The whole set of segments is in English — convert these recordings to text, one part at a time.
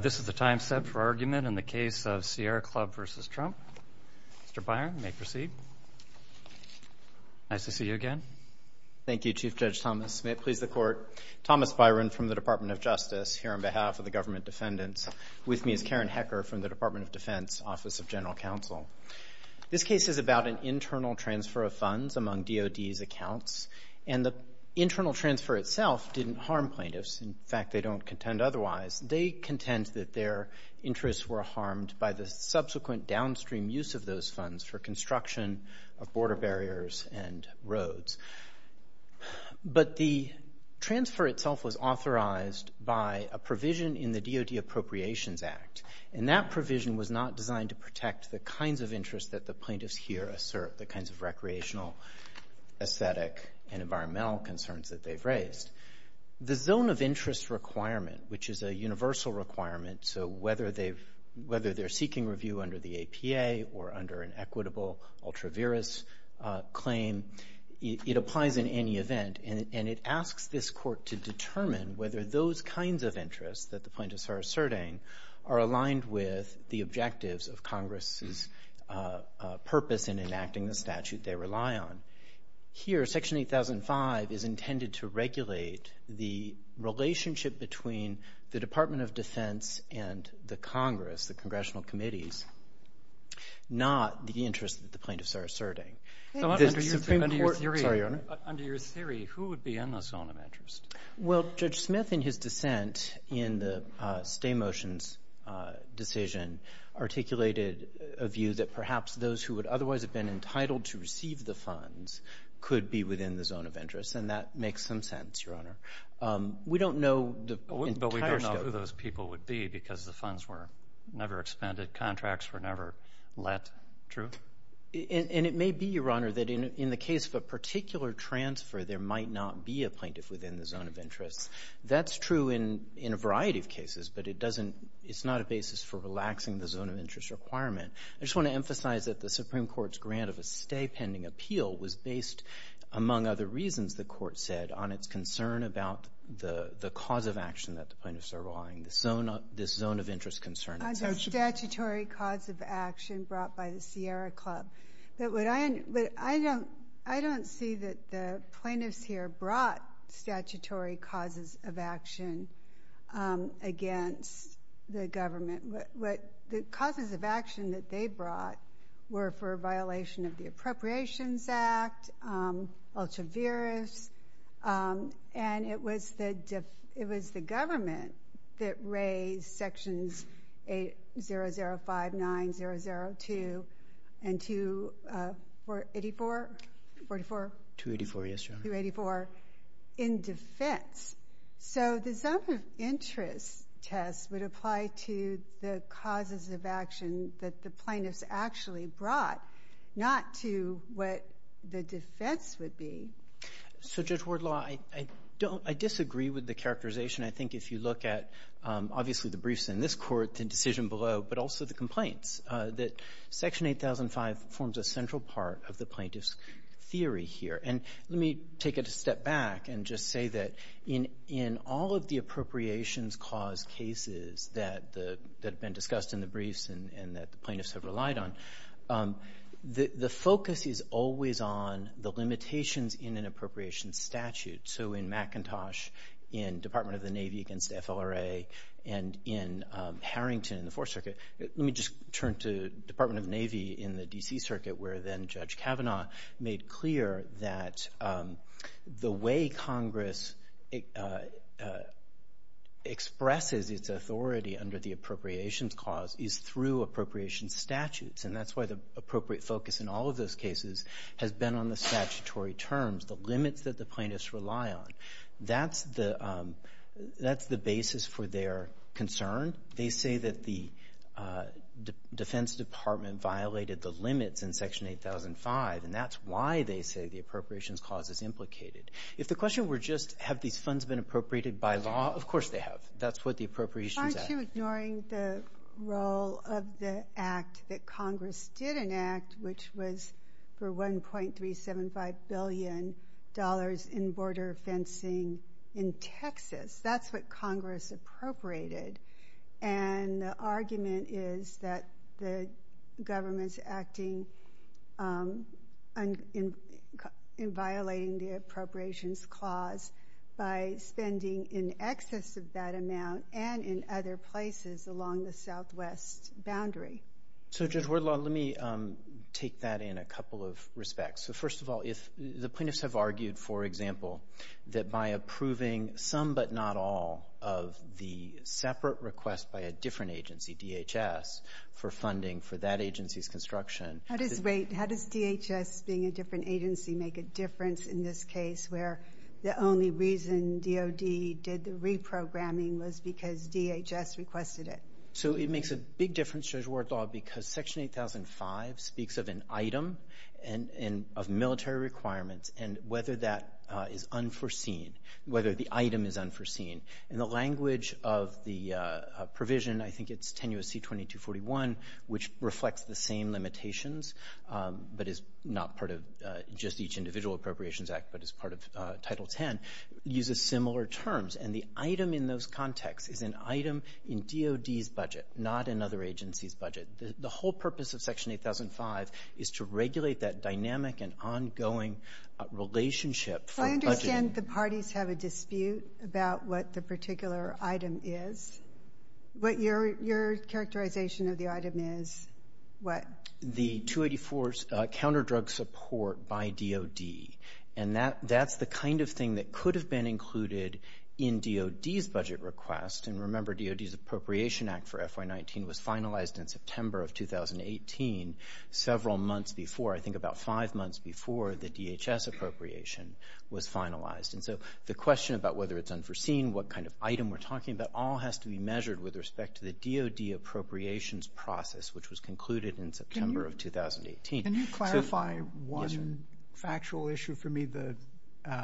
This is the time set for argument in the case of Sierra Club v. Trump. Mr. Byron, you may proceed. Nice to see you again. Thank you, Chief Judge Thomas. May it please the Court. Thomas Byron from the Department of Justice here on behalf of the government defendants. With me is Karen Hecker from the Department of Defense Office of General Counsel. This case is about an internal transfer of funds among DOD's accounts, and the internal transfer itself didn't harm plaintiffs. In fact, they don't contend otherwise. They contend that their interests were harmed by the subsequent downstream use of those funds for construction of border barriers and roads. But the transfer itself was authorized by a provision in the DOD Appropriations Act, and that provision was not designed to protect the kinds of interests that the plaintiffs here assert, the kinds of recreational, aesthetic, and environmental concerns that they've raised. The zone of interest requirement, which is a universal requirement, so whether they're seeking review under the APA or under an equitable ultra-virus claim, it applies in any event, and it asks this Court to determine whether those kinds of interests that the plaintiffs are asserting are aligned with the objectives of Congress's purpose in enacting the statute they rely on. Now, here, Section 8005 is intended to regulate the relationship between the Department of Defense and the Congress, the congressional committees, not the interests that the plaintiffs are asserting. The Supreme Court — So under your theory — Sorry, Your Honor. Under your theory, who would be in the zone of interest? Well, Judge Smith, in his dissent in the stay motions decision, articulated a view that perhaps those who would otherwise have been entitled to receive the funds could be within the zone of interest, and that makes some sense, Your Honor. We don't know the entire scope — But we don't know who those people would be because the funds were never expended, contracts were never let. True? And it may be, Your Honor, that in the case of a particular transfer, there might not be a plaintiff within the zone of interest. That's true in a variety of cases, but it doesn't — it's not a basis for relaxing the zone of interest requirement. I just want to emphasize that the Supreme Court's grant of a stay pending appeal was based, among other reasons, the Court said, on its concern about the cause of action that the plaintiffs are relying, this zone of interest concern. On the statutory cause of action brought by the Sierra Club. But I don't see that the plaintiffs here brought statutory causes of action against the government. The causes of action that they brought were for a violation of the Appropriations Act, ultra-virus, and it was the government that raised Sections 8005, 9002, and 284? 284, yes, Your Honor. 284 in defense. So the zone of interest test would apply to the causes of action that the plaintiffs actually brought, not to what the defense would be. So, Judge Wardlaw, I disagree with the characterization. I think if you look at, obviously, the briefs in this Court, the decision below, but also the complaints, that Section 8005 forms a central part of the plaintiffs' theory here. And let me take it a step back and just say that in all of the appropriations cause cases that have been discussed in the briefs and that the plaintiffs have relied on, the focus is always on the limitations in an appropriations statute. So in McIntosh, in Department of the Navy against FLRA, and in Harrington in the Fourth Circuit. Let me just turn to Department of the Navy in the D.C. Circuit, where then Judge Kavanaugh made clear that the way Congress expresses its authority under the appropriations cause is through appropriations statutes. And that's why the appropriate focus in all of those cases has been on the statutory terms, the limits that the plaintiffs rely on. That's the basis for their concern. They say that the Defense Department violated the limits in Section 8005, and that's why they say the appropriations cause is implicated. If the question were just have these funds been appropriated by law, of course they have. That's what the appropriations act is. Aren't you ignoring the role of the act that Congress did enact, which was for $1.375 billion in border fencing in Texas? That's what Congress appropriated. And the argument is that the government is acting in violating the appropriations clause by spending in excess of that amount and in other places along the Southwest boundary. So, Judge Wardlaw, let me take that in a couple of respects. First of all, the plaintiffs have argued, for example, that by approving some but not all of the separate request by a different agency, DHS, for funding for that agency's construction. How does DHS being a different agency make a difference in this case where the only reason DOD did the reprogramming was because DHS requested it? It makes a big difference, Judge Wardlaw, because Section 8005 speaks of an item and of military requirements and whether that is unforeseen, whether the item is unforeseen. And the language of the provision, I think it's 10 U.S.C. 2241, which reflects the same limitations but is not part of just each individual appropriations act but is part of Title X, uses similar terms. And the item in those contexts is an item in DOD's budget, not another agency's budget. The whole purpose of Section 8005 is to regulate that dynamic and ongoing relationship for budgeting. I understand the parties have a dispute about what the particular item is. What your characterization of the item is, what? The 284's counterdrug support by DOD. And that's the kind of thing that could have been included in DOD's budget request. And remember, DOD's Appropriation Act for FY19 was finalized in September of 2018, several months before, I think about five months before, the DHS appropriation was finalized. And so the question about whether it's unforeseen, what kind of item we're talking about, all has to be measured with respect to the DOD appropriations process, which was concluded in September of 2018. Can you clarify one factual issue for me? The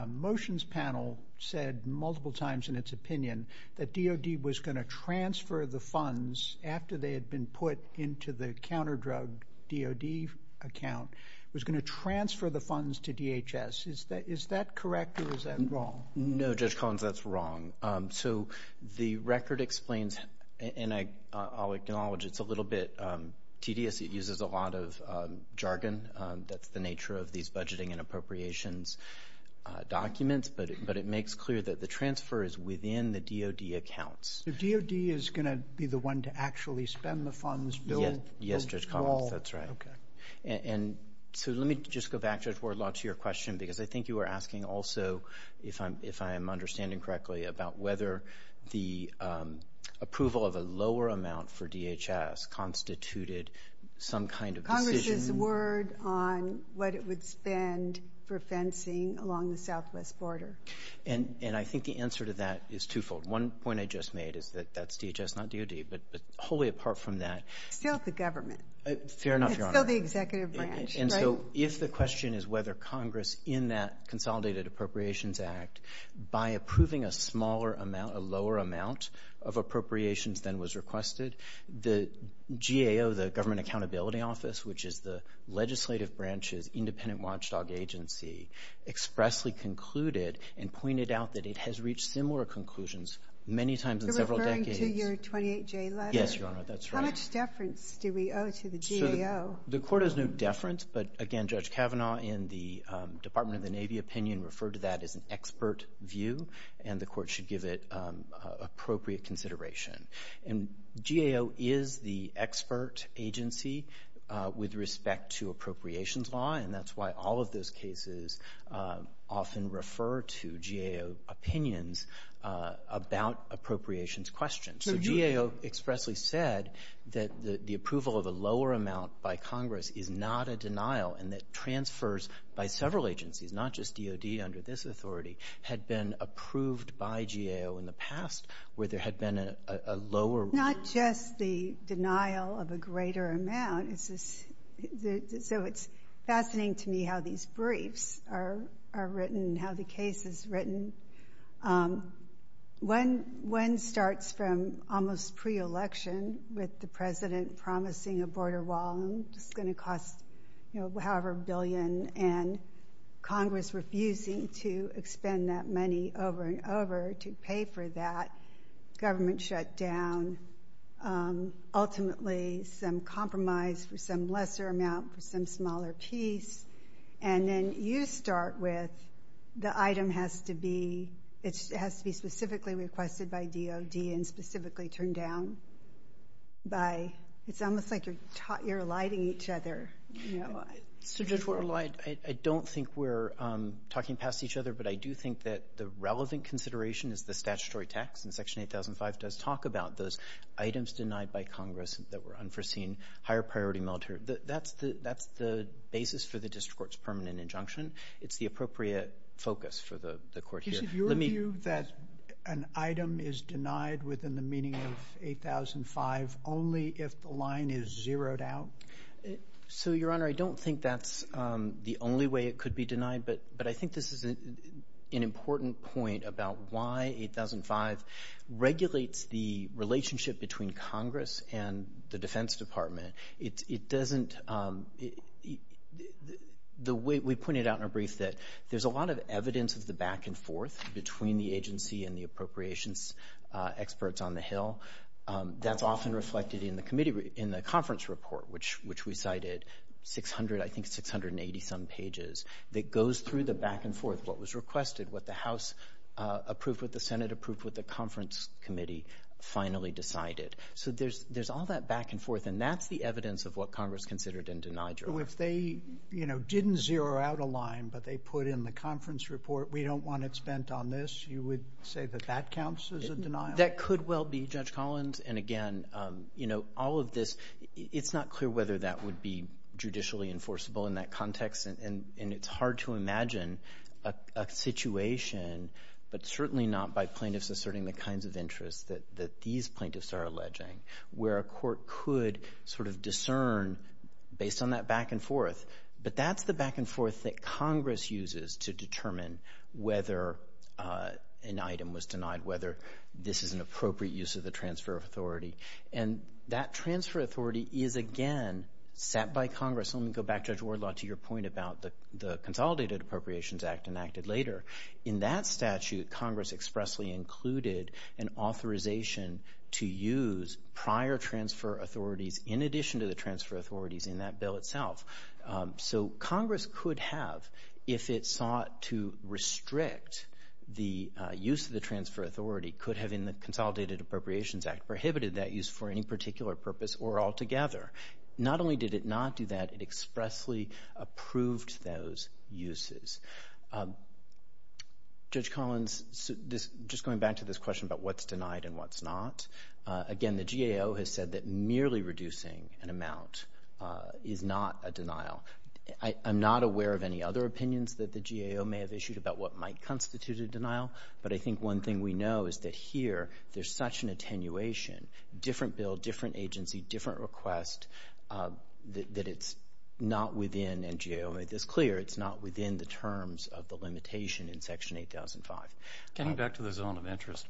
motions panel said multiple times in its opinion that DOD was going to transfer the funds after they had been put into the counterdrug DOD account, was going to transfer the funds to DHS. Is that correct or is that wrong? No, Judge Collins, that's wrong. So the record explains, and I'll acknowledge it's a little bit tedious. It uses a lot of jargon. That's the nature of these budgeting and appropriations documents, but it makes clear that the transfer is within the DOD accounts. So DOD is going to be the one to actually spend the funds, build the wall? Yes, Judge Collins, that's right. Okay. And so let me just go back, Judge Wardlaw, to your question, because I think you were asking also, if I am understanding correctly, about whether the approval of a lower amount for DHS constituted some kind of decision. Congress's word on what it would spend for fencing along the southwest border. And I think the answer to that is twofold. One point I just made is that that's DHS, not DOD, but wholly apart from that. It's still the government. Fair enough, Your Honor. It's still the executive branch, right? So if the question is whether Congress, in that Consolidated Appropriations Act, by approving a smaller amount, a lower amount of appropriations than was requested, the GAO, the Government Accountability Office, which is the legislative branch's independent watchdog agency, expressly concluded and pointed out that it has reached similar conclusions many times in several decades. You're referring to your 28J letter? Yes, Your Honor, that's right. How much deference do we owe to the GAO? The Court has no deference, but, again, Judge Kavanaugh, in the Department of the Navy opinion, referred to that as an expert view, and the Court should give it appropriate consideration. And GAO is the expert agency with respect to appropriations law, and that's why all of those cases often refer to GAO opinions about appropriations questions. So GAO expressly said that the approval of a lower amount by Congress is not a denial and that transfers by several agencies, not just DOD under this authority, had been approved by GAO in the past where there had been a lower. Not just the denial of a greater amount. So it's fascinating to me how these briefs are written, how the case is written. One starts from almost pre-election with the president promising a border wall that's going to cost, you know, however billion, and Congress refusing to expend that money over and over to pay for that. Government shut down. Ultimately some compromise for some lesser amount for some smaller piece. And then you start with the item has to be specifically requested by DOD and specifically turned down by, it's almost like you're eliding each other. I don't think we're talking past each other, but I do think that the relevant consideration is the statutory tax, and Section 8005 does talk about those items denied by Congress that were unforeseen. Higher priority military. That's the basis for the district court's permanent injunction. It's the appropriate focus for the court here. Your view that an item is denied within the meaning of 8005 only if the line is zeroed out? So, Your Honor, I don't think that's the only way it could be denied, but I think this is an important point about why 8005 regulates the relationship between Congress and the Defense Department. It doesn't – we pointed out in our brief that there's a lot of evidence of the back and forth between the agency and the appropriations experts on the Hill. That's often reflected in the conference report, which we cited 600, I think 680-some pages, that goes through the back and forth, what was requested, what the House approved, what the Senate approved, what the conference committee finally decided. So there's all that back and forth, and that's the evidence of what Congress considered and denied, Your Honor. So if they, you know, didn't zero out a line, but they put in the conference report, we don't want it spent on this, you would say that that counts as a denial? That could well be, Judge Collins. And, again, you know, all of this, it's not clear whether that would be judicially enforceable in that context, and it's hard to imagine a situation, but certainly not by plaintiffs asserting the kinds of interests that these plaintiffs are alleging, where a court could sort of discern based on that back and forth. But that's the back and forth that Congress uses to determine whether an item was denied, whether this is an appropriate use of the transfer of authority. And that transfer of authority is, again, set by Congress. Let me go back, Judge Wardlaw, to your point about the Consolidated Appropriations Act enacted later. In that statute, Congress expressly included an authorization to use prior transfer authorities in addition to the transfer authorities in that bill itself. So Congress could have, if it sought to restrict the use of the transfer authority, could have in the Consolidated Appropriations Act prohibited that use for any particular purpose or altogether. Not only did it not do that, it expressly approved those uses. Judge Collins, just going back to this question about what's denied and what's not, again, the GAO has said that merely reducing an amount is not a denial. I'm not aware of any other opinions that the GAO may have issued about what might constitute a denial, but I think one thing we know is that here there's such an attenuation, different bill, different agency, different request, that it's not within, and GAO made this clear, it's not within the terms of the limitation in Section 8005. Getting back to the zone of interest,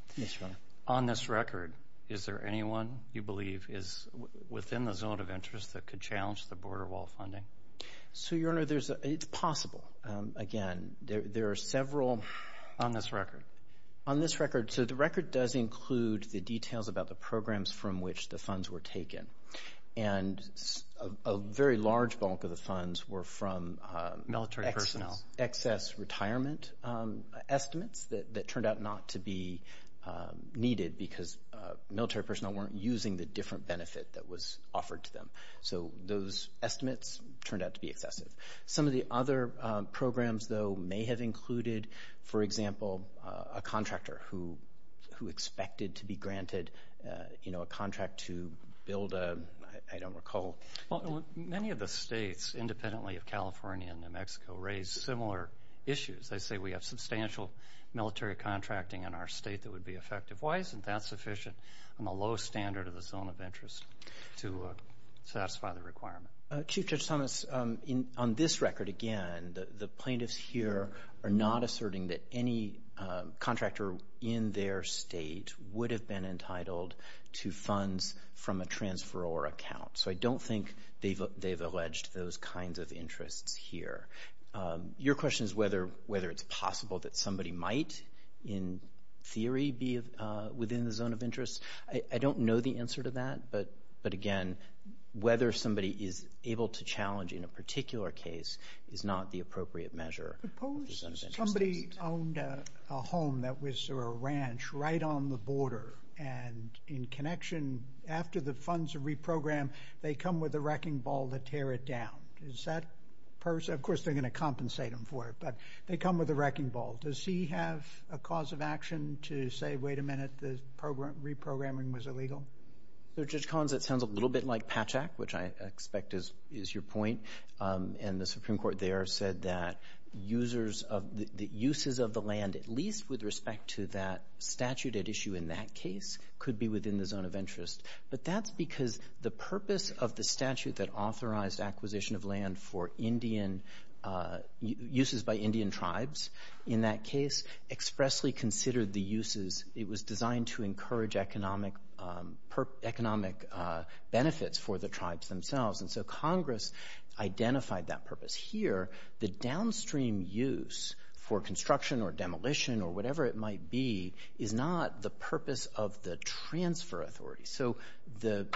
on this record, is there anyone you believe is within the zone of interest that could challenge the border wall funding? So, Your Honor, it's possible. Again, there are several. On this record? On this record. So the record does include the details about the programs from which the funds were taken, and a very large bulk of the funds were from excess retirement estimates that turned out not to be needed because military personnel weren't using the different benefit that was offered to them. So those estimates turned out to be excessive. Some of the other programs, though, may have included, for example, a contractor who expected to be granted a contract to build a, I don't recall. Many of the states, independently of California and New Mexico, raise similar issues. They say we have substantial military contracting in our state that would be effective. Why isn't that sufficient on the lowest standard of the zone of interest to satisfy the requirement? Chief Judge Thomas, on this record, again, the plaintiffs here are not asserting that any contractor in their state would have been entitled to funds from a transferor account. So I don't think they've alleged those kinds of interests here. Your question is whether it's possible that somebody might, in theory, be within the zone of interest. I don't know the answer to that, but, again, whether somebody is able to challenge in a particular case is not the appropriate measure. Somebody owned a home that was a ranch right on the border, and in connection, after the funds are reprogrammed, they come with a wrecking ball to tear it down. Of course, they're going to compensate him for it, but they come with a wrecking ball. Does he have a cause of action to say, wait a minute, the reprogramming was illegal? Judge Collins, that sounds a little bit like Patchak, which I expect is your point. And the Supreme Court there said that uses of the land, at least with respect to that statute at issue in that case, could be within the zone of interest. But that's because the purpose of the statute that authorized acquisition of land for uses by Indian tribes in that case expressly considered the uses. It was designed to encourage economic benefits for the tribes themselves. And so Congress identified that purpose. Here, the downstream use for construction or demolition or whatever it might be is not the purpose of the transfer authority. So the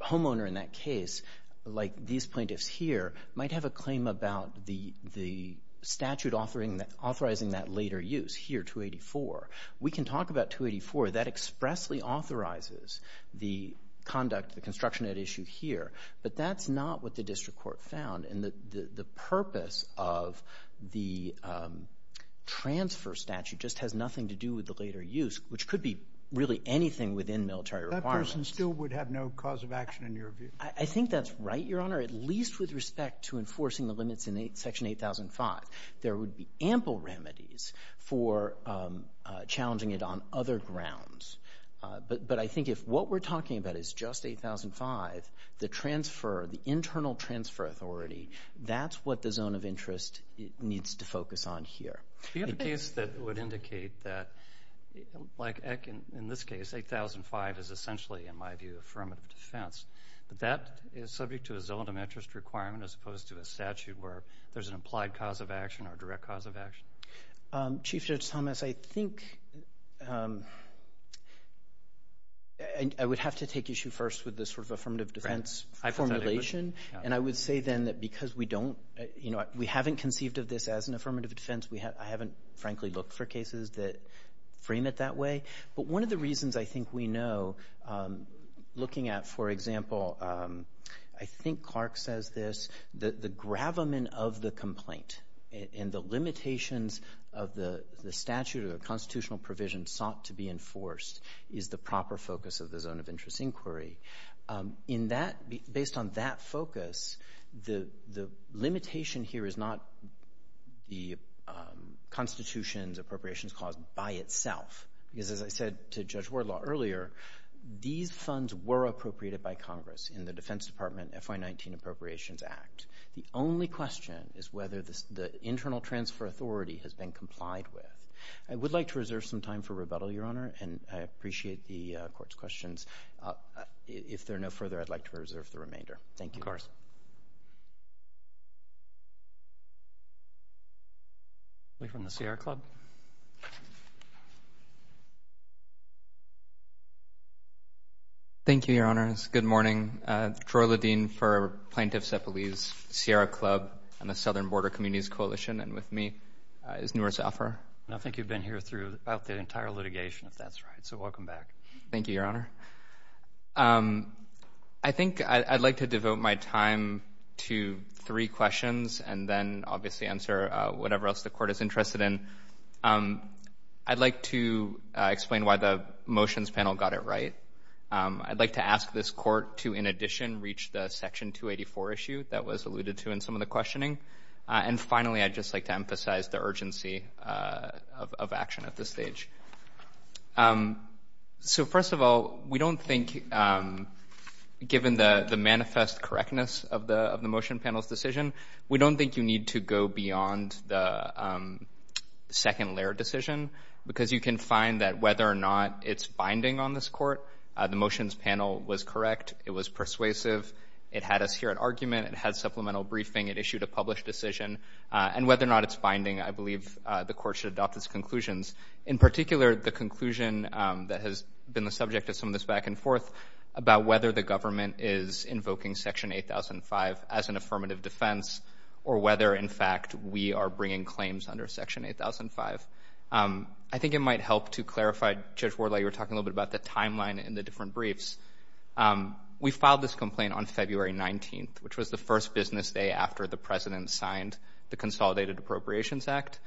homeowner in that case, like these plaintiffs here, might have a claim about the statute authorizing that later use here, 284. We can talk about 284. That expressly authorizes the conduct, the construction at issue here. But that's not what the district court found. And the purpose of the transfer statute just has nothing to do with the later use, which could be really anything within military requirements. That person still would have no cause of action in your view. I think that's right, Your Honor, at least with respect to enforcing the limits in Section 8005. There would be ample remedies for challenging it on other grounds. But I think if what we're talking about is just 8005, the transfer, the internal transfer authority, that's what the zone of interest needs to focus on here. Do you have a case that would indicate that, like in this case, 8005 is essentially, in my view, affirmative defense, but that is subject to a zone of interest requirement as opposed to a statute where there's an implied cause of action or a direct cause of action? Chief Judge Thomas, I think I would have to take issue first with this sort of affirmative defense formulation. And I would say then that because we haven't conceived of this as an affirmative defense, I haven't, frankly, looked for cases that frame it that way. But one of the reasons I think we know, looking at, for example, I think Clark says this, the gravamen of the complaint and the limitations of the statute or the constitutional provision sought to be enforced is the proper focus of the zone of interest inquiry. Based on that focus, the limitation here is not the Constitution's appropriations clause by itself. Because as I said to Judge Wardlaw earlier, these funds were appropriated by Congress in the Defense Department FY19 Appropriations Act. The only question is whether the internal transfer authority has been complied with. I would like to reserve some time for rebuttal, Your Honor, and I appreciate the Court's questions. If there are no further, I'd like to reserve the remainder. Thank you. Of course. Thank you, Your Honor. We're from the Sierra Club. Thank you, Your Honors. Good morning. Troy Ledeen for Plaintiffs at Police, Sierra Club, and the Southern Border Communities Coalition. And with me is Noor Zafar. I think you've been here through about the entire litigation, if that's right. So welcome back. Thank you, Your Honor. I think I'd like to devote my time to three questions and then obviously answer whatever else the Court is interested in. I'd like to explain why the motions panel got it right. I'd like to ask this Court to, in addition, reach the Section 284 issue that was alluded to in some of the questioning. And finally, I'd just like to emphasize the urgency of action at this stage. So, first of all, we don't think, given the manifest correctness of the motion panel's decision, we don't think you need to go beyond the second layer decision because you can find that whether or not it's binding on this Court. The motions panel was correct. It was persuasive. It had us hear an argument. It had supplemental briefing. It issued a published decision. And whether or not it's binding, I believe the Court should adopt its conclusions. In particular, the conclusion that has been the subject of some of this back and forth about whether the government is invoking Section 8005 as an affirmative defense or whether, in fact, we are bringing claims under Section 8005. I think it might help to clarify, Judge Wardley, you were talking a little bit about the timeline in the different briefs. We filed this complaint on February 19th, which was the first business day after the President signed the Consolidated Appropriations Act,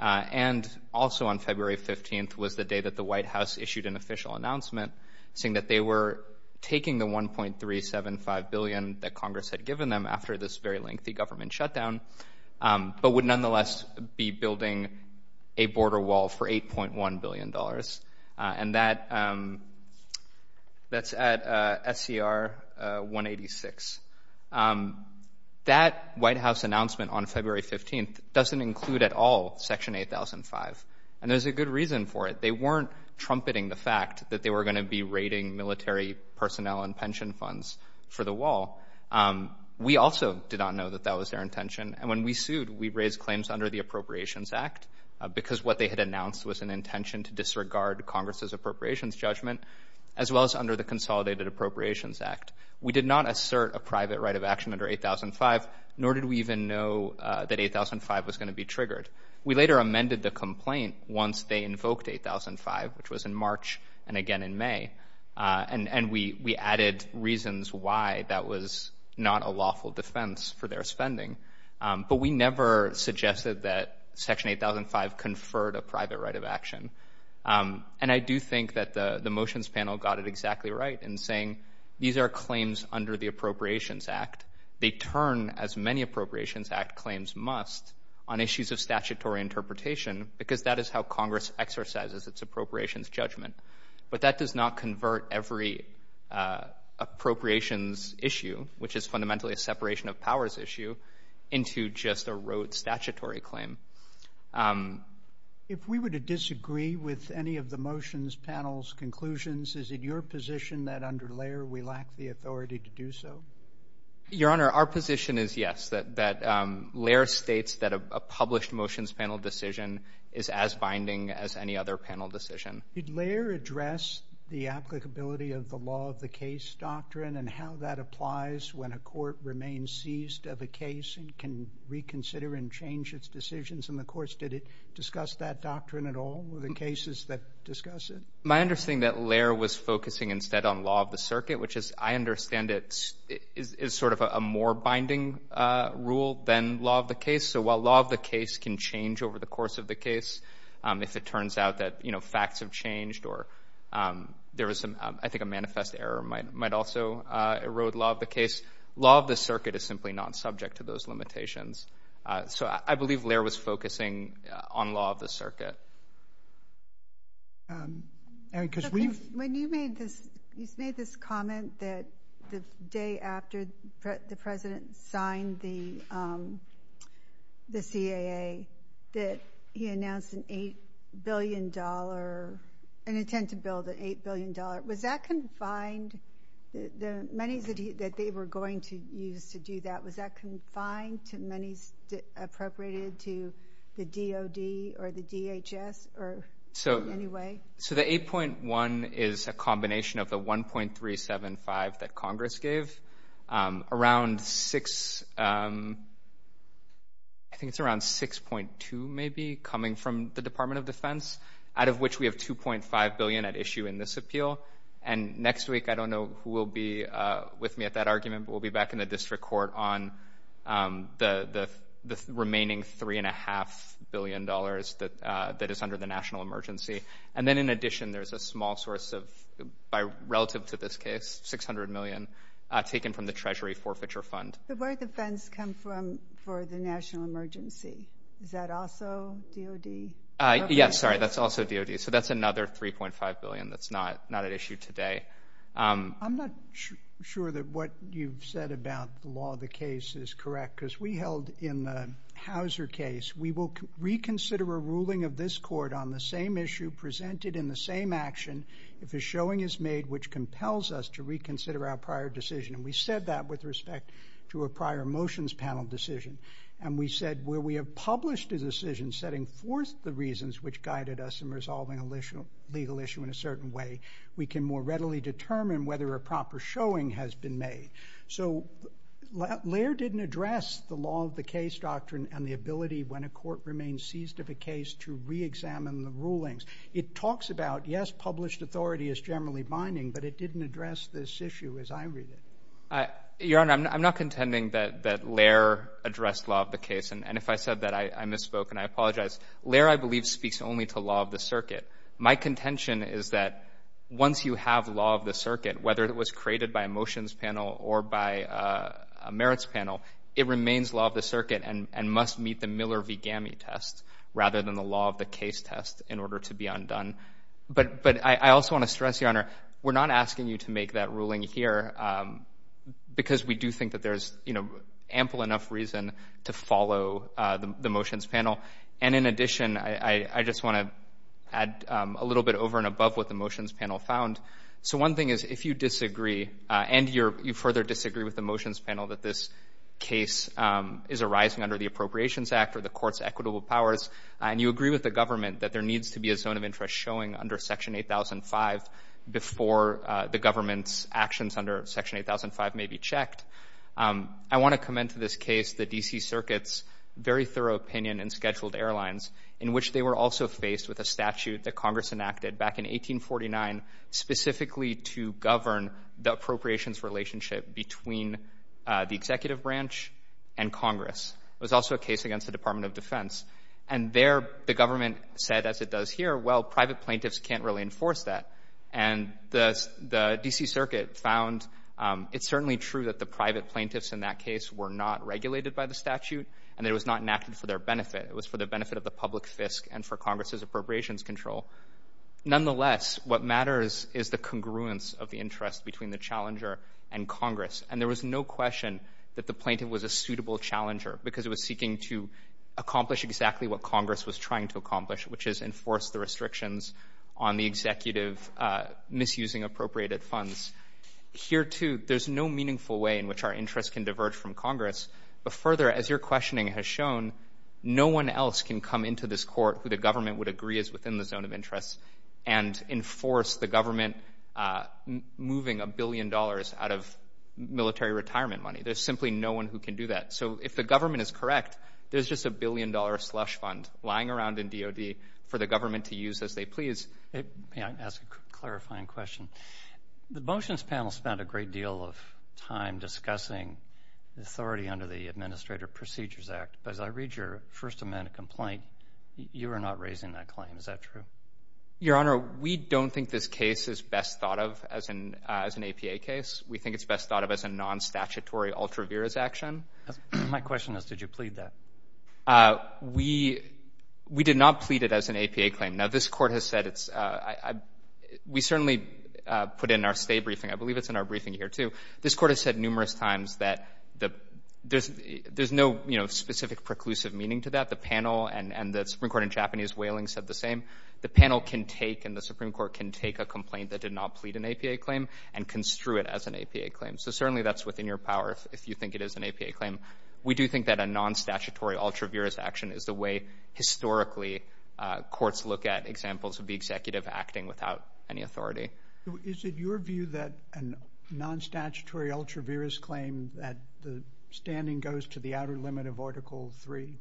and also on February 15th was the day that the White House issued an official announcement saying that they were taking the $1.375 billion that Congress had given them after this very lengthy government shutdown but would nonetheless be building a border wall for $8.1 billion. And that's at SCR 186. That White House announcement on February 15th doesn't include at all Section 8005. And there's a good reason for it. They weren't trumpeting the fact that they were going to be raiding military personnel and pension funds for the wall. We also did not know that that was their intention. And when we sued, we raised claims under the Appropriations Act because what they had announced was an intention to disregard Congress's appropriations judgment as well as under the Consolidated Appropriations Act. We did not assert a private right of action under 8005, nor did we even know that 8005 was going to be triggered. We later amended the complaint once they invoked 8005, which was in March and again in May, and we added reasons why that was not a lawful defense for their spending. But we never suggested that Section 8005 conferred a private right of action. And I do think that the motions panel got it exactly right in saying these are claims under the Appropriations Act. They turn, as many Appropriations Act claims must, on issues of statutory interpretation because that is how Congress exercises its appropriations judgment. But that does not convert every appropriations issue, which is fundamentally a separation of powers issue, into just a rote statutory claim. If we were to disagree with any of the motions panel's conclusions, is it your position that under Laird we lack the authority to do so? Your Honor, our position is yes, that Laird states that a published motions panel decision is as binding as any other panel decision. Did Laird address the applicability of the law of the case doctrine and how that applies when a court remains seized of a case and can reconsider and change its decisions in the courts? Did it discuss that doctrine at all with the cases that discuss it? My understanding is that Laird was focusing instead on law of the circuit, which as I understand it is sort of a more binding rule than law of the case. So while law of the case can change over the course of the case, if it turns out that facts have changed or there is, I think, a manifest error might also erode law of the case, law of the circuit is simply not subject to those limitations. So I believe Laird was focusing on law of the circuit. When you made this comment that the day after the President signed the CAA that he announced an intent to build an $8 billion, was that confined, the monies that they were going to use to do that, was that confined to monies appropriated to the DOD or the DHS or any way? So the 8.1 is a combination of the 1.375 that Congress gave. Around 6, I think it's around 6.2 maybe coming from the Department of Defense, out of which we have $2.5 billion at issue in this appeal. And next week, I don't know who will be with me at that argument, but we'll be back in the district court on the remaining $3.5 billion that is under the national emergency. And then in addition, there's a small source of, relative to this case, $600 million taken from the Treasury forfeiture fund. But where did the funds come from for the national emergency? Is that also DOD? Yes, sorry, that's also DOD. So that's another $3.5 billion that's not at issue today. I'm not sure that what you've said about the law of the case is correct because we held in the Hauser case, we will reconsider a ruling of this court on the same issue presented in the same action if a showing is made which compels us to reconsider our prior decision. And we said that with respect to a prior motions panel decision. And we said where we have published a decision setting forth the reasons which guided us in resolving a legal issue in a certain way, we can more readily determine whether a proper showing has been made. So Laird didn't address the law of the case doctrine and the ability when a court remains seized of a case to reexamine the rulings. It talks about, yes, published authority is generally binding, but it didn't address this issue as I read it. Your Honor, I'm not contending that Laird addressed law of the case. And if I said that, I misspoke and I apologize. Laird, I believe, speaks only to law of the circuit. My contention is that once you have law of the circuit, whether it was created by a motions panel or by a merits panel, it remains law of the circuit and must meet the Miller v. Gamme test rather than the law of the case test in order to be undone. But I also want to stress, Your Honor, we're not asking you to make that ruling here. Because we do think that there's ample enough reason to follow the motions panel. And in addition, I just want to add a little bit over and above what the motions panel found. So one thing is if you disagree and you further disagree with the motions panel that this case is arising under the Appropriations Act or the court's equitable powers and you agree with the government that there needs to be a zone of interest showing under Section 8005 before the government's actions under Section 8005 may be checked, I want to commend to this case the D.C. Circuit's very thorough opinion in scheduled airlines in which they were also faced with a statute that Congress enacted back in 1849 specifically to govern the appropriations relationship between the executive branch and Congress. It was also a case against the Department of Defense. And there the government said, as it does here, well, private plaintiffs can't really enforce that. And the D.C. Circuit found it's certainly true that the private plaintiffs in that case were not regulated by the statute and that it was not enacted for their benefit. It was for the benefit of the public fisc and for Congress's appropriations control. Nonetheless, what matters is the congruence of the interest between the challenger and Congress. And there was no question that the plaintiff was a suitable challenger because it was seeking to accomplish exactly what Congress was trying to accomplish, which is enforce the restrictions on the executive misusing appropriated funds. Here, too, there's no meaningful way in which our interests can diverge from Congress. But further, as your questioning has shown, no one else can come into this court who the government would agree is within the zone of interest and enforce the government moving a billion dollars out of military retirement money. There's simply no one who can do that. So if the government is correct, there's just a billion-dollar slush fund lying around in DOD for the government to use as they please. May I ask a clarifying question? The motions panel spent a great deal of time discussing authority under the Administrative Procedures Act. But as I read your First Amendment complaint, you are not raising that claim. Is that true? Your Honor, we don't think this case is best thought of as an APA case. We think it's best thought of as a non-statutory ultra vires action. My question is, did you plead that? We did not plead it as an APA claim. Now, this court has said it's we certainly put in our stay briefing. I believe it's in our briefing here, too. This court has said numerous times that there's no specific preclusive meaning to that. The panel and the Supreme Court in Japanese whaling said the same. The panel can take and the Supreme Court can take a complaint that did not plead an APA claim and construe it as an APA claim. So certainly that's within your power if you think it is an APA claim. We do think that a non-statutory ultra vires action is the way historically courts look at examples of the executive acting without any authority. Is it your view that a non-statutory ultra vires claim, that the standing goes to the outer limit of Article III,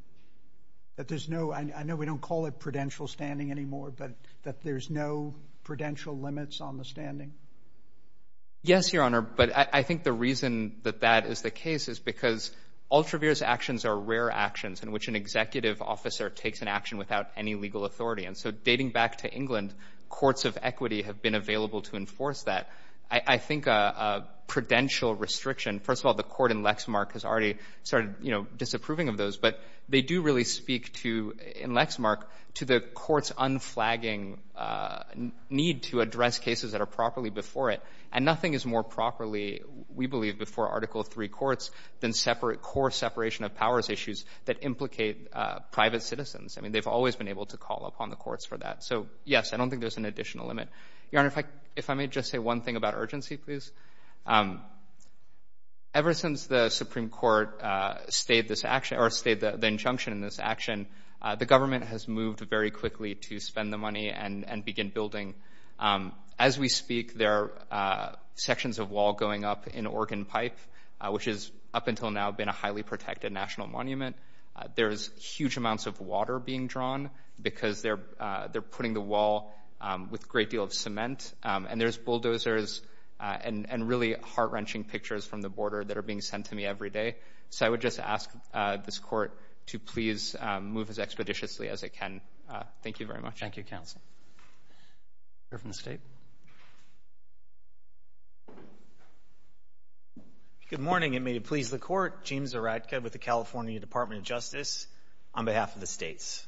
that there's no, I know we don't call it prudential standing anymore, but that there's no prudential limits on the standing? Yes, Your Honor, but I think the reason that that is the case is because ultra vires actions are rare actions in which an executive officer takes an action without any legal authority, and so dating back to England, courts of equity have been available to enforce that. I think a prudential restriction, first of all, the court in Lexmark has already started, you know, disapproving of those, but they do really speak to, in Lexmark, to the court's unflagging need to address cases that are properly before it, and nothing is more properly, we believe, before Article III courts than separate core separation of powers issues that implicate private citizens. I mean, they've always been able to call upon the courts for that. So, yes, I don't think there's an additional limit. Your Honor, if I may just say one thing about urgency, please. Ever since the Supreme Court stayed this action, or stayed the injunction in this action, the government has moved very quickly to spend the money and begin building. As we speak, there are sections of wall going up in Organ Pipe, which has up until now been a highly protected national monument. There's huge amounts of water being drawn because they're putting the wall with a great deal of cement, and there's bulldozers and really heart-wrenching pictures from the border that are being sent to me every day. So I would just ask this court to please move as expeditiously as it can. Thank you very much. Thank you, counsel. Here from the state. Good morning, and may it please the court. James Zaretka with the California Department of Justice on behalf of the states.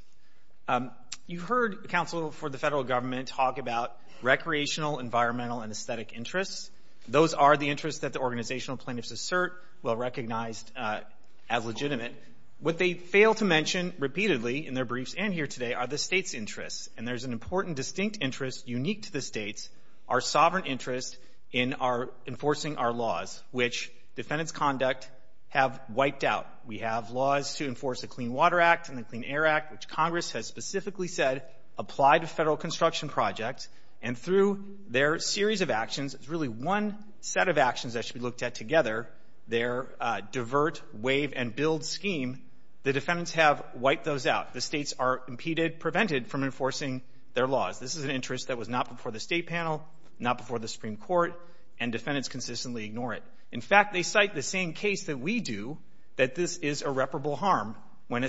You heard counsel for the federal government talk about recreational, environmental, and aesthetic interests. Those are the interests that the organizational plaintiffs assert, well-recognized as legitimate. What they fail to mention repeatedly in their briefs and here today are the states' interests, and there's an important distinct interest unique to the states, our sovereign interest in enforcing our laws, which defendants' conduct have wiped out. We have laws to enforce the Clean Water Act and the Clean Air Act, which Congress has specifically said apply to federal construction projects, and through their series of actions, it's really one set of actions that should be looked at together, their divert, waive, and build scheme, the defendants have wiped those out. The states are impeded, prevented from enforcing their laws. This is an interest that was not before the state panel, not before the Supreme Court, and defendants consistently ignore it. In fact, they cite the same case that we do that this is irreparable harm. When a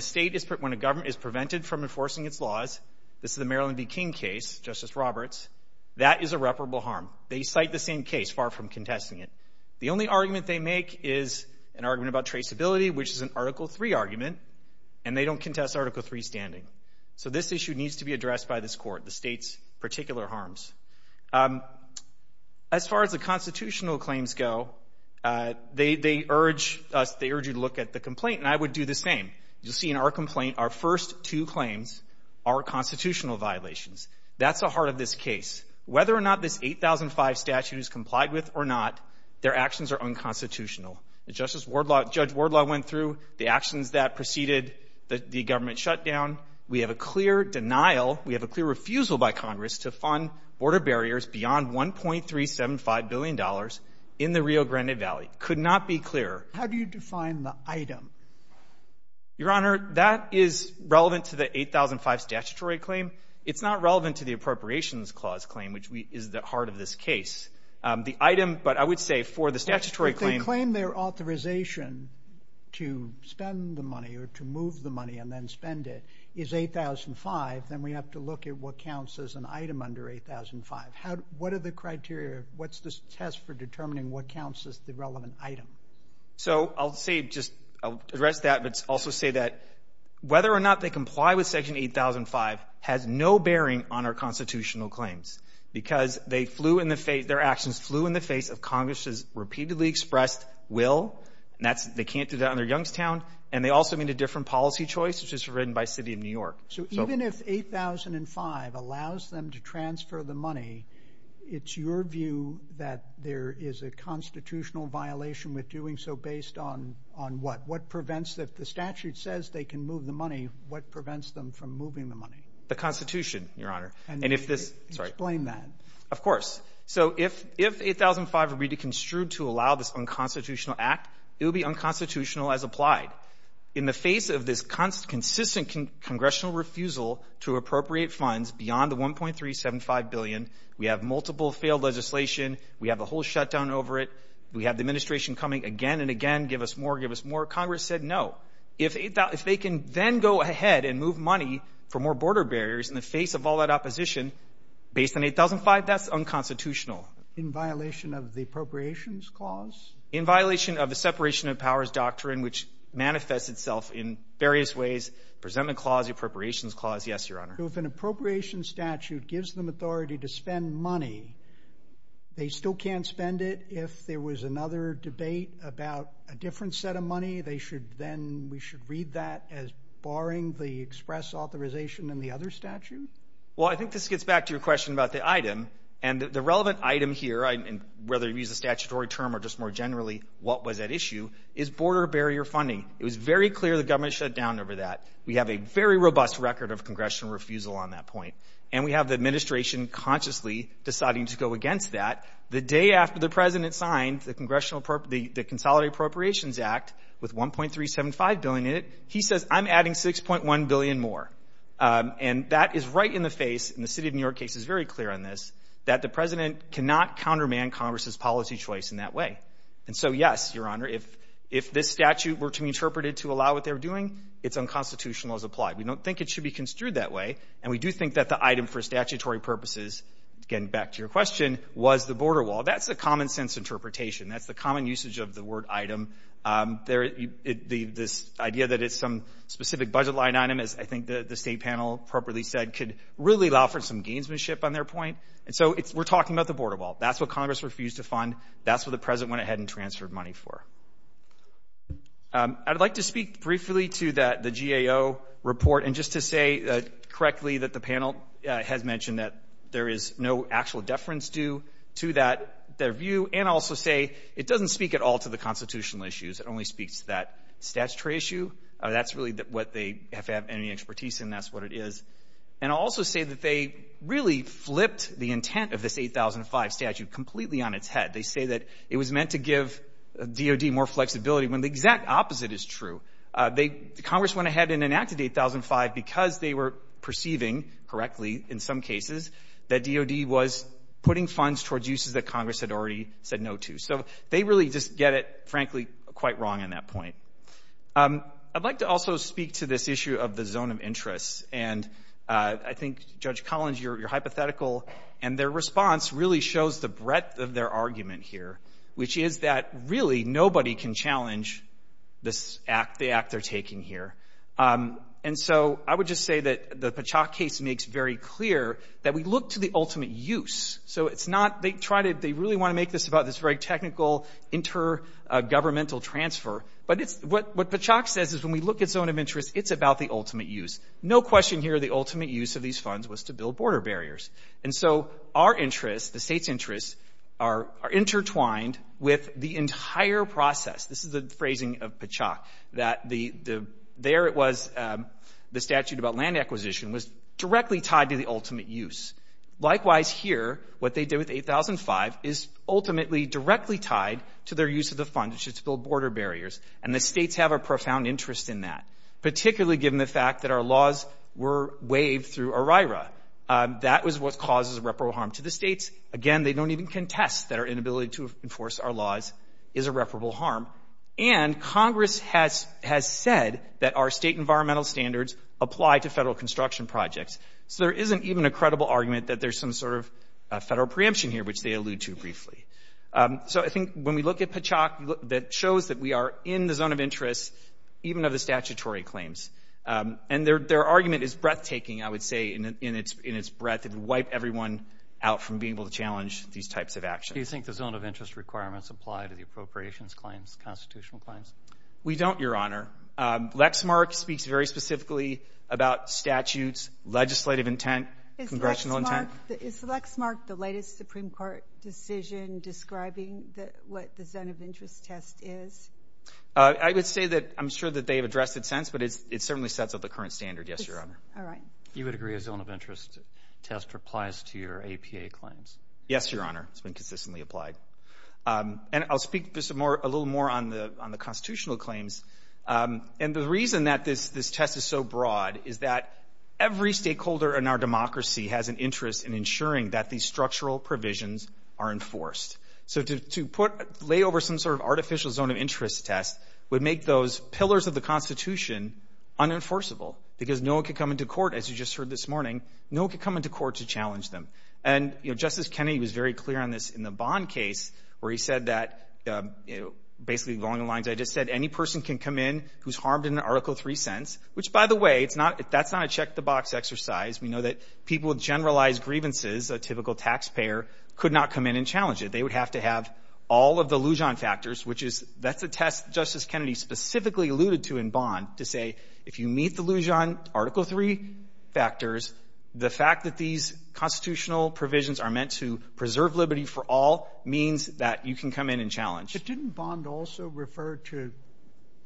government is prevented from enforcing its laws, this is the Maryland v. King case, Justice Roberts, that is irreparable harm. They cite the same case, far from contesting it. The only argument they make is an argument about traceability, which is an Article III argument, and they don't contest Article III standing. So this issue needs to be addressed by this court, the states' particular harms. As far as the constitutional claims go, they urge you to look at the complaint, and I would do the same. You'll see in our complaint, our first two claims are constitutional violations. That's the heart of this case. Whether or not this 8005 statute is complied with or not, their actions are unconstitutional. Judge Wardlaw went through the actions that preceded the government shutdown. We have a clear denial. We have a clear refusal by Congress to fund border barriers beyond $1.375 billion in the Rio Grande Valley. Could not be clearer. How do you define the item? Your Honor, that is relevant to the 8005 statutory claim. It's not relevant to the Appropriations Clause claim, which is the heart of this case. The item, but I would say for the statutory claim. If the claim, their authorization to spend the money or to move the money and then spend it is 8005, then we have to look at what counts as an item under 8005. What are the criteria? What's the test for determining what counts as the relevant item? So I'll say, just address that, but also say that whether or not they comply with Section 8005 has no bearing on our constitutional claims because they flew in the face, their actions flew in the face of Congress's repeatedly expressed will, and they can't do that under Youngstown, and they also made a different policy choice, which was written by the City of New York. So even if 8005 allows them to transfer the money, it's your view that there is a constitutional violation with doing so based on what? If the statute says they can move the money, what prevents them from moving the money? The Constitution, Your Honor. Explain that. Of course. So if 8005 were to be construed to allow this unconstitutional act, it would be unconstitutional as applied. In the face of this consistent congressional refusal to appropriate funds beyond the $1.375 billion, we have multiple failed legislation, we have a whole shutdown over it, we have the administration coming again and again, give us more, give us more. Congress said no. If they can then go ahead and move money for more border barriers in the face of all that opposition based on 8005, that's unconstitutional. In violation of the Appropriations Clause? In violation of the Separation of Powers Doctrine, which manifests itself in various ways, the Presentment Clause, the Appropriations Clause, yes, Your Honor. So if an appropriations statute gives them authority to spend money, they still can't spend it? If there was another debate about a different set of money, then we should read that as barring the express authorization in the other statute? Well, I think this gets back to your question about the item. And the relevant item here, whether you use a statutory term or just more generally what was at issue, is border barrier funding. It was very clear the government shut down over that. We have a very robust record of congressional refusal on that point. And we have the administration consciously deciding to go against that. The day after the President signed the Consolidated Appropriations Act with $1.375 billion in it, he says I'm adding $6.1 billion more. And that is right in the face, and the City of New York case is very clear on this, that the President cannot countermand Congress's policy choice in that way. And so, yes, Your Honor, if this statute were to be interpreted to allow what they were doing, its unconstitutional as applied. We don't think it should be construed that way. And we do think that the item for statutory purposes, getting back to your question, was the border wall. That's a common-sense interpretation. That's the common usage of the word item. This idea that it's some specific budget line item, as I think the State panel properly said, could really offer some gainsmanship on their point. And so we're talking about the border wall. That's what Congress refused to fund. That's what the President went ahead and transferred money for. I'd like to speak briefly to the GAO report and just to say correctly that the panel has mentioned that there is no actual deference due to their view and also say it doesn't speak at all to the constitutional issues. It only speaks to that statutory issue. That's really what they have to have any expertise in. That's what it is. And I'll also say that they really flipped the intent of this 8005 statute completely on its head. They say that it was meant to give DOD more flexibility when the exact opposite is true. Congress went ahead and enacted 8005 because they were perceiving correctly in some cases that DOD was putting funds towards uses that Congress had already said no to. So they really just get it, frankly, quite wrong on that point. I'd like to also speak to this issue of the zone of interest. And I think, Judge Collins, you're hypothetical. And their response really shows the breadth of their argument here, which is that really nobody can challenge the act they're taking here. And so I would just say that the Pachock case makes very clear that we look to the ultimate use. So it's not they try to they really want to make this about this very technical intergovernmental transfer. But what Pachock says is when we look at zone of interest, it's about the ultimate use. No question here the ultimate use of these funds was to build border barriers. And so our interests, the state's interests, are intertwined with the entire process. This is the phrasing of Pachock, that there it was, the statute about land acquisition, was directly tied to the ultimate use. Likewise here, what they did with 8005 is ultimately directly tied to their use of the fund, which is to build border barriers. And the states have a profound interest in that, particularly given the fact that our laws were waived through OIRA. That was what causes irreparable harm to the states. Again, they don't even contest that our inability to enforce our laws is irreparable harm. And Congress has said that our state environmental standards apply to federal construction projects. So there isn't even a credible argument that there's some sort of federal preemption here, which they allude to briefly. So I think when we look at Pachock, that shows that we are in the zone of interest, even of the statutory claims. And their argument is breathtaking, I would say, in its breadth. It would wipe everyone out from being able to challenge these types of actions. Do you think the zone of interest requirements apply to the appropriations claims, constitutional claims? We don't, Your Honor. Lexmark speaks very specifically about statutes, legislative intent, congressional intent. Is Lexmark the latest Supreme Court decision describing what the zone of interest test is? I would say that I'm sure that they've addressed it since, but it certainly sets up the current standard, yes, Your Honor. All right. You would agree a zone of interest test applies to your APA claims? Yes, Your Honor. It's been consistently applied. And I'll speak just a little more on the constitutional claims. And the reason that this test is so broad is that every stakeholder in our democracy has an interest in ensuring that these structural provisions are enforced. So to lay over some sort of artificial zone of interest test would make those pillars of the Constitution unenforceable because no one could come into court, as you just heard this morning, no one could come into court to challenge them. And, you know, Justice Kennedy was very clear on this in the Bond case where he said that, basically along the lines I just said, any person can come in who's harmed in an Article 3 sense, which, by the way, that's not a check-the-box exercise. We know that people with generalized grievances, a typical taxpayer, could not come in and challenge it. They would have to have all of the Lujan factors, which is that's a test Justice Kennedy specifically alluded to in Bond to say, if you meet the Lujan Article 3 factors, the fact that these constitutional provisions are meant to preserve liberty for all means that you can come in and challenge. But didn't Bond also refer to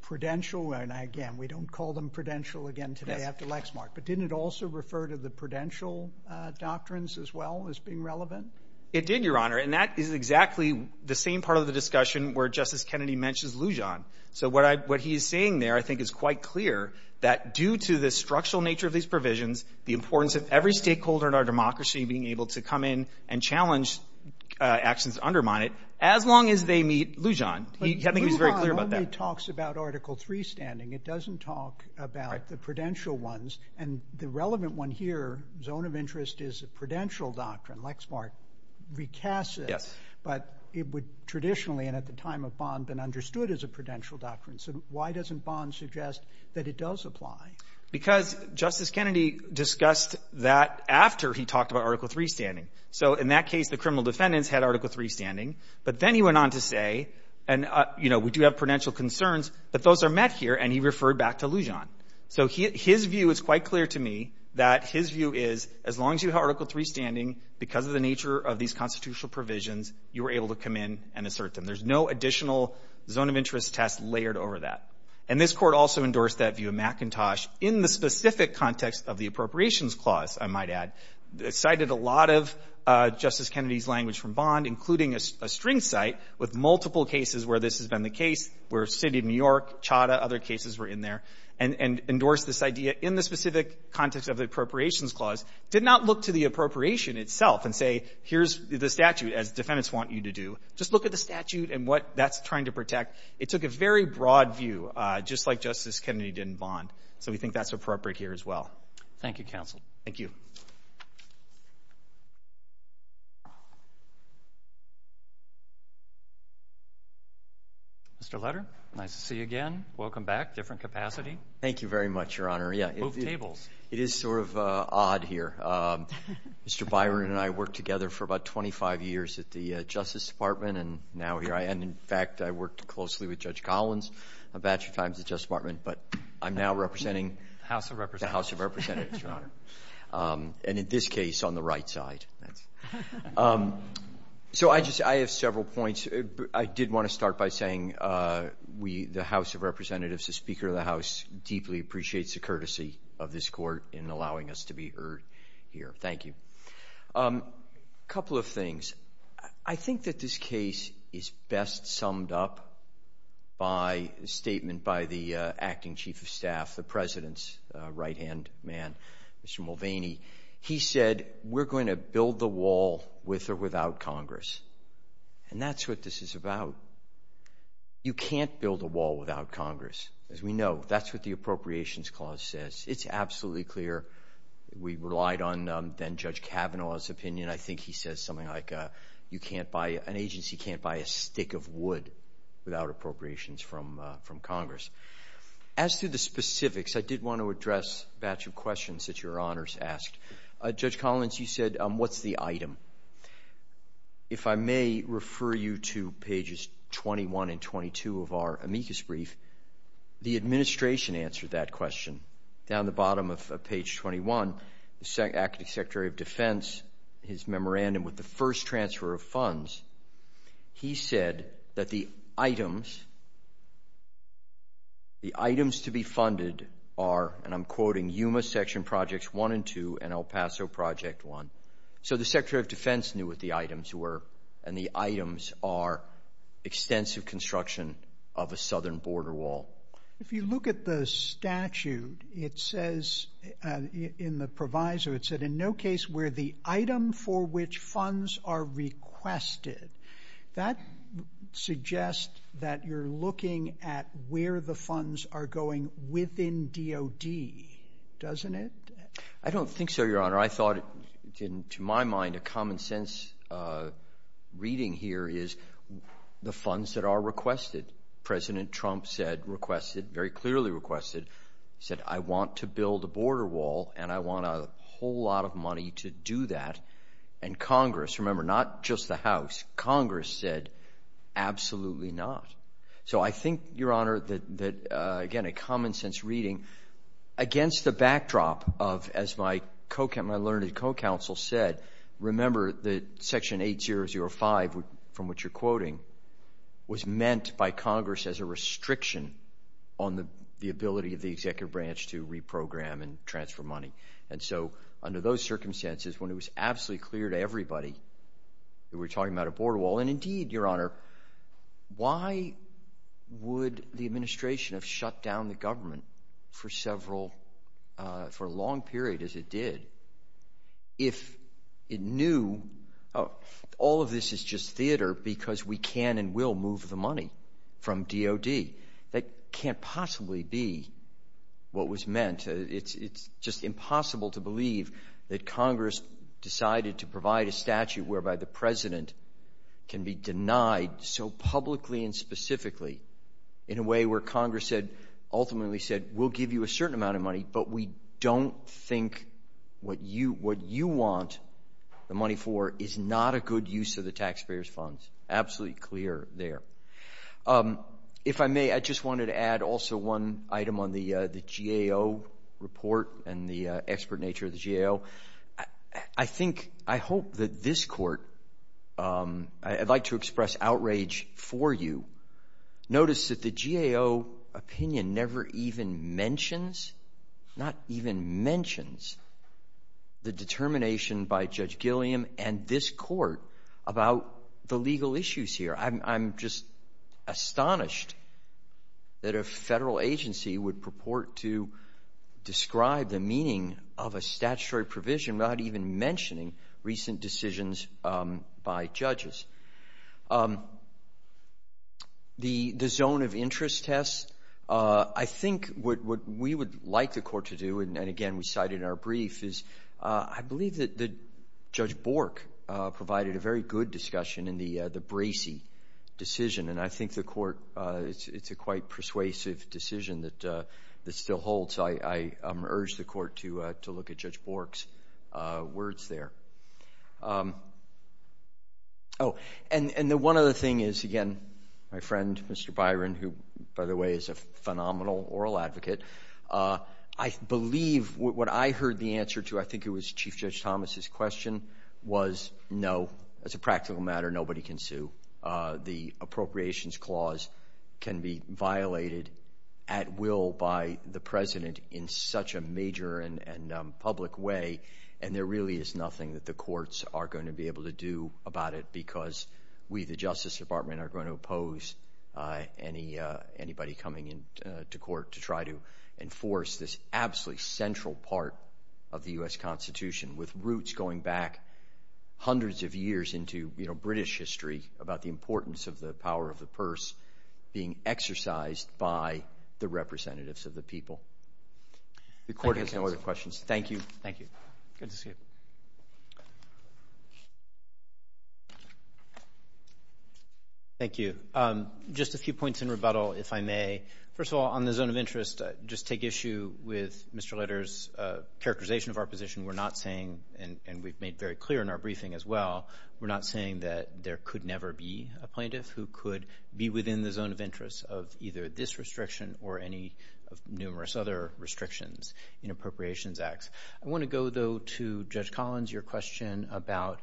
prudential? And, again, we don't call them prudential again today after Lexmark. But didn't it also refer to the prudential doctrines as well as being relevant? It did, Your Honor. And that is exactly the same part of the discussion where Justice Kennedy mentions Lujan. So what he's saying there I think is quite clear, that due to the structural nature of these provisions, the importance of every stakeholder in our democracy being able to come in and challenge actions to undermine it, as long as they meet Lujan. He was very clear about that. But Lujan only talks about Article 3 standing. It doesn't talk about the prudential ones. And the relevant one here, zone of interest is a prudential doctrine, Lexmark, recasts it, but it would traditionally, and at the time of Bond, been understood as a prudential doctrine. So why doesn't Bond suggest that it does apply? Because Justice Kennedy discussed that after he talked about Article 3 standing. So in that case, the criminal defendants had Article 3 standing. But then he went on to say, and, you know, we do have prudential concerns, but those are met here, and he referred back to Lujan. So his view is quite clear to me, that his view is, as long as you have Article 3 standing, because of the nature of these constitutional provisions, you are able to come in and assert them. There's no additional zone of interest test layered over that. And this Court also endorsed that view of McIntosh in the specific context of the Appropriations Clause, I might add. It cited a lot of Justice Kennedy's language from Bond, including a string cite, with multiple cases where this has been the case, where the City of New York, Chadha, other cases were in there, and endorsed this idea in the specific context of the Appropriations Clause. Did not look to the appropriation itself and say, here's the statute, as defendants want you to do. Just look at the statute and what that's trying to protect. It took a very broad view, just like Justice Kennedy did in Bond. So we think that's appropriate here as well. Thank you, counsel. Thank you. Mr. Letter, nice to see you again. Welcome back. Different capacity. Thank you very much, Your Honor. Move tables. It is sort of odd here. Mr. Byron and I worked together for about 25 years at the Justice Department, and now here I am. In fact, I worked closely with Judge Collins a batch of times at the Justice Department, but I'm now representing the House of Representatives, Your Honor, and in this case, on the right side. So I just have several points. I did want to start by saying we, the House of Representatives, the Speaker of the Court, in allowing us to be heard here. Thank you. A couple of things. I think that this case is best summed up by a statement by the Acting Chief of Staff, the President's right-hand man, Mr. Mulvaney. He said, we're going to build the wall with or without Congress, and that's what this is about. You can't build a wall without Congress, as we know. That's what the Appropriations Clause says. It's absolutely clear. We relied on then Judge Kavanaugh's opinion. I think he says something like an agency can't buy a stick of wood without appropriations from Congress. As to the specifics, I did want to address a batch of questions that Your Honors asked. Judge Collins, you said, what's the item? If I may refer you to pages 21 and 22 of our amicus brief, the administration answered that question. Down the bottom of page 21, the Acting Secretary of Defense, his memorandum with the first transfer of funds, he said that the items to be funded are, and I'm quoting, Yuma Section Projects 1 and 2 and El Paso Project 1. So the Secretary of Defense knew what the items were, and the items are extensive construction of a southern border wall. If you look at the statute, it says in the proviso, it said, in no case were the item for which funds are requested. That suggests that you're looking at where the funds are going within DOD, doesn't it? I don't think so, Your Honor. I thought, to my mind, a common sense reading here is the funds that are requested. President Trump said, requested, very clearly requested, said, I want to build a border wall and I want a whole lot of money to do that. And Congress, remember, not just the House, Congress said, absolutely not. So I think, Your Honor, that, again, a common sense reading against the backdrop of, as my learned co-counsel said, remember that Section 8005, from which you're quoting, was meant by Congress as a restriction on the ability of the executive branch to reprogram and transfer money. And so under those circumstances, when it was absolutely clear to everybody that we're talking about a border wall, and indeed, Your Honor, why would the administration have shut down the government for several, for a long period, as it did, if it knew all of this is just theater because we can and will move the money from DOD? That can't possibly be what was meant. It's just impossible to believe that Congress decided to provide a statute whereby the President can be denied so publicly and specifically in a way where Congress said, ultimately said, we'll give you a certain amount of money, but we don't think what you want the money for is not a good use of the taxpayers' funds. Absolutely clear there. If I may, I just wanted to add also one item on the GAO report and the expert nature of the GAO. I think, I hope that this court, I'd like to express outrage for you, notice that the GAO opinion never even mentions, not even mentions, the determination by Judge Gilliam and this court about the legal issues here. I'm just astonished that a federal agency would purport to describe the meaning of a statutory provision not even mentioning recent decisions by judges. The zone of interest test, I think what we would like the court to do, and again we cited in our brief, is I believe that Judge Bork provided a very good discussion in the Bracey decision, and I think the court, it's a quite persuasive decision that still holds. I urge the court to look at Judge Bork's words there. Oh, and the one other thing is, again, my friend Mr. Byron, who by the way is a phenomenal oral advocate, I believe what I heard the answer to, I think it was Chief Judge Thomas' question, was no, as a practical matter, nobody can sue. The appropriations clause can be violated at will by the president in such a major and public way, and there really is nothing that the courts are going to be able to do about it because we, the Justice Department, are going to oppose anybody coming into court to try to enforce this absolutely central part of the U.S. Constitution with roots going back hundreds of years into British history about the importance of the power of the purse being exercised by the representatives of the people. The court has no other questions. Thank you. Thank you. Thank you. Just a few points in rebuttal, if I may. First of all, on the zone of interest, just take issue with Mr. Leder's characterization of our position. We're not saying, and we've made very clear in our briefing as well, we're not saying that there could never be a plaintiff who could be within the zone of interest of either this restriction or any of numerous other restrictions in appropriations acts. I want to go, though, to Judge Collins, your question about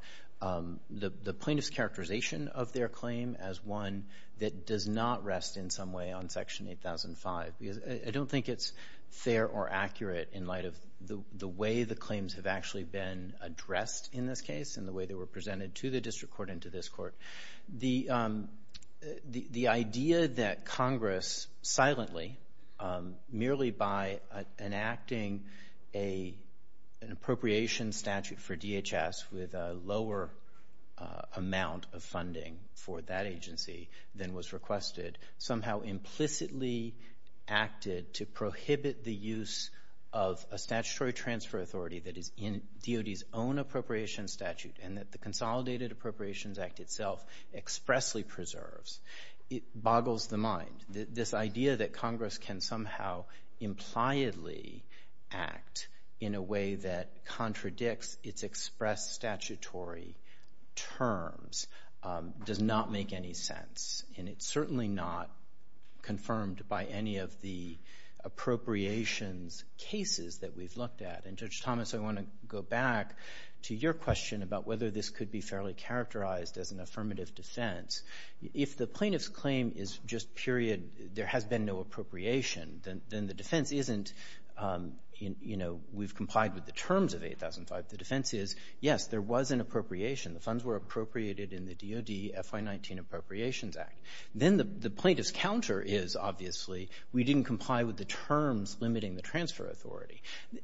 the plaintiff's characterization of their claim as one that does not rest in some way on Section 8005 because I don't think it's fair or accurate in light of the way the claims have actually been addressed in this case and the way they were presented to the district court and to this court. The idea that Congress silently, merely by enacting an appropriation statute for DHS with a lower amount of funding for that agency than was requested, somehow implicitly acted to prohibit the use of a statutory transfer authority that is in DOD's own appropriation statute and that the Consolidated Appropriations Act itself expressly preserves, it boggles the mind. This idea that Congress can somehow impliedly act in a way that contradicts its expressed statutory terms does not make any sense, and it's certainly not confirmed by any of the appropriations cases that we've looked at. And, Judge Thomas, I want to go back to your question about whether this could be fairly characterized as an affirmative defense. If the plaintiff's claim is just period, there has been no appropriation, then the defense isn't, you know, we've complied with the terms of 8005. The defense is, yes, there was an appropriation. The funds were appropriated in the DOD FY19 Appropriations Act. Then the plaintiff's counter is, obviously, we didn't comply with the terms limiting the transfer authority.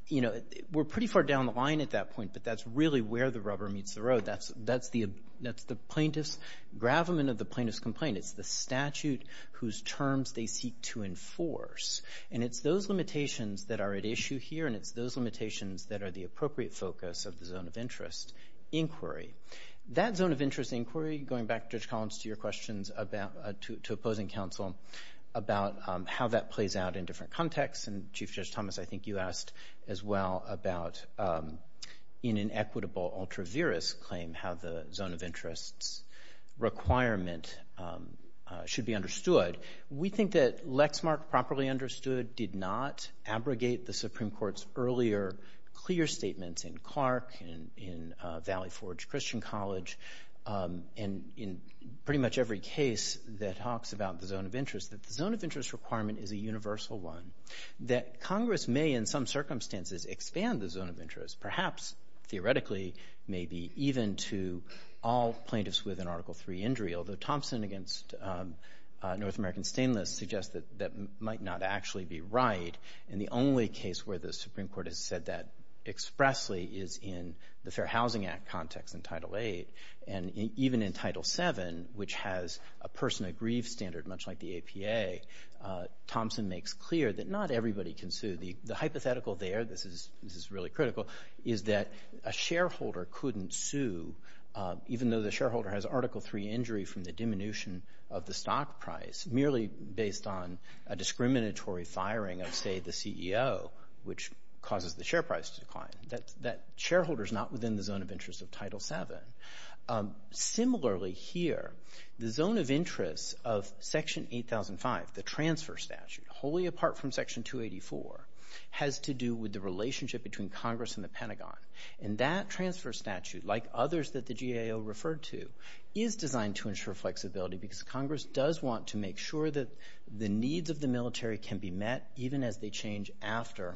You know, we're pretty far down the line at that point, but that's really where the rubber meets the road. That's the plaintiff's gravamen of the plaintiff's complaint. It's the statute whose terms they seek to enforce, and it's those limitations that are at issue here, and it's those limitations that are the appropriate focus of the zone of interest inquiry. That zone of interest inquiry, going back, Judge Collins, to your questions to opposing counsel about how that plays out in different contexts, and, Chief Judge Thomas, I think you asked as well about an inequitable ultra-virus claim, how the zone of interest's requirement should be understood. We think that Lexmark properly understood did not abrogate the Supreme Court's earlier clear statements in Clark, in Valley Forge Christian College, and in pretty much every case that talks about the zone of interest, that the zone of interest requirement is a universal one, that Congress may, in some circumstances, expand the zone of interest, perhaps, theoretically, maybe even to all plaintiffs with an Article III injury, although Thompson against North American Stainless suggests that that might not actually be right, and the only case where the Supreme Court has said that expressly is in the Fair Housing Act context in Title VIII, and even in Title VII, which has a person-aggrieved standard, much like the APA, Thompson makes clear that not everybody can sue. The hypothetical there, this is really critical, is that a shareholder couldn't sue, even though the shareholder has Article III injury from the diminution of the stock price, merely based on a discriminatory firing of, say, the CEO, which causes the share price to decline. That shareholder's not within the zone of interest of Title VII. Similarly here, the zone of interest of Section 8005, the transfer statute, wholly apart from Section 284, has to do with the relationship between Congress and the Pentagon, and that transfer statute, like others that the GAO referred to, is designed to ensure flexibility because Congress does want to make sure that the needs of the military can be met, even as they change after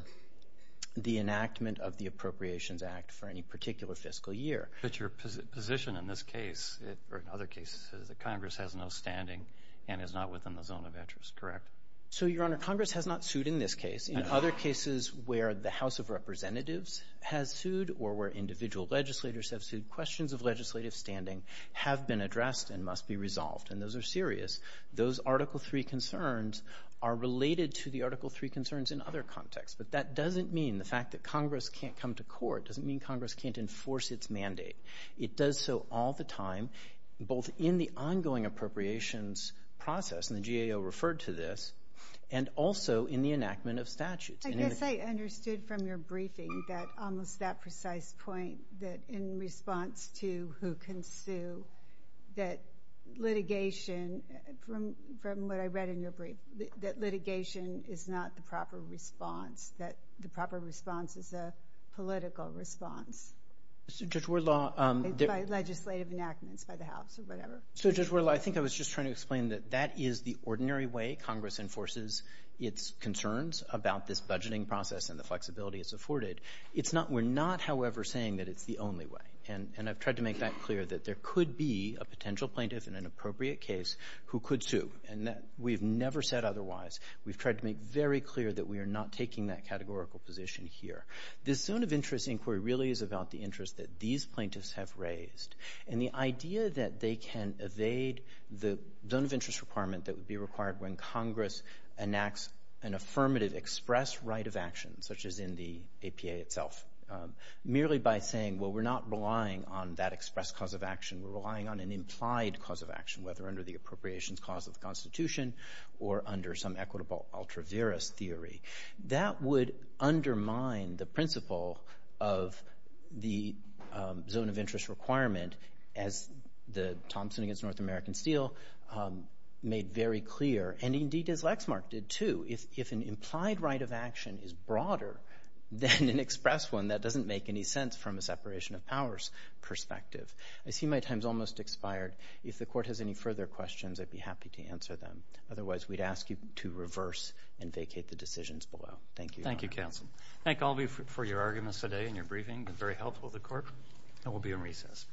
the enactment of the Appropriations Act for any particular fiscal year. But your position in this case, or in other cases, is that Congress has no standing and is not within the zone of interest, correct? So, Your Honor, Congress has not sued in this case. In other cases where the House of Representatives has sued or where individual legislators have sued, questions of legislative standing have been addressed and must be resolved, and those are serious. Those Article III concerns are related to the Article III concerns in other contexts, but that doesn't mean the fact that Congress can't come to court doesn't mean Congress can't enforce its mandate. It does so all the time, both in the ongoing appropriations process, and the GAO referred to this, and also in the enactment of statutes. I guess I understood from your briefing that almost that precise point, that in response to who can sue, that litigation, from what I read in your brief, that litigation is not the proper response, that the proper response is a political response by legislative enactments by the House or whatever. So, Judge Whittle, I think I was just trying to explain that that is the ordinary way Congress enforces its concerns about this budgeting process and the flexibility it's afforded. We're not, however, saying that it's the only way, and I've tried to make that clear, that there could be a potential plaintiff in an appropriate case who could sue, and we've never said otherwise. We've tried to make very clear that we are not taking that categorical position here. This zone of interest inquiry really is about the interest that these plaintiffs have raised, and the idea that they can evade the zone of interest requirement that would be required when Congress enacts an affirmative express right of action, such as in the APA itself, merely by saying, well, we're not relying on that express cause of action. We're relying on an implied cause of action, whether under the appropriations clause of the Constitution or under some equitable ultra viris theory. That would undermine the principle of the zone of interest requirement, as Thompson against North American Steel made very clear, and indeed as Lexmark did, too. If an implied right of action is broader than an express one, that doesn't make any sense from a separation of powers perspective. I see my time's almost expired. If the Court has any further questions, I'd be happy to answer them. Otherwise, we'd ask you to reverse and vacate the decisions below. Thank you, Your Honor. Thank you, counsel. Thank all of you for your arguments today and your briefing. It was very helpful to the Court, and we'll be in recess.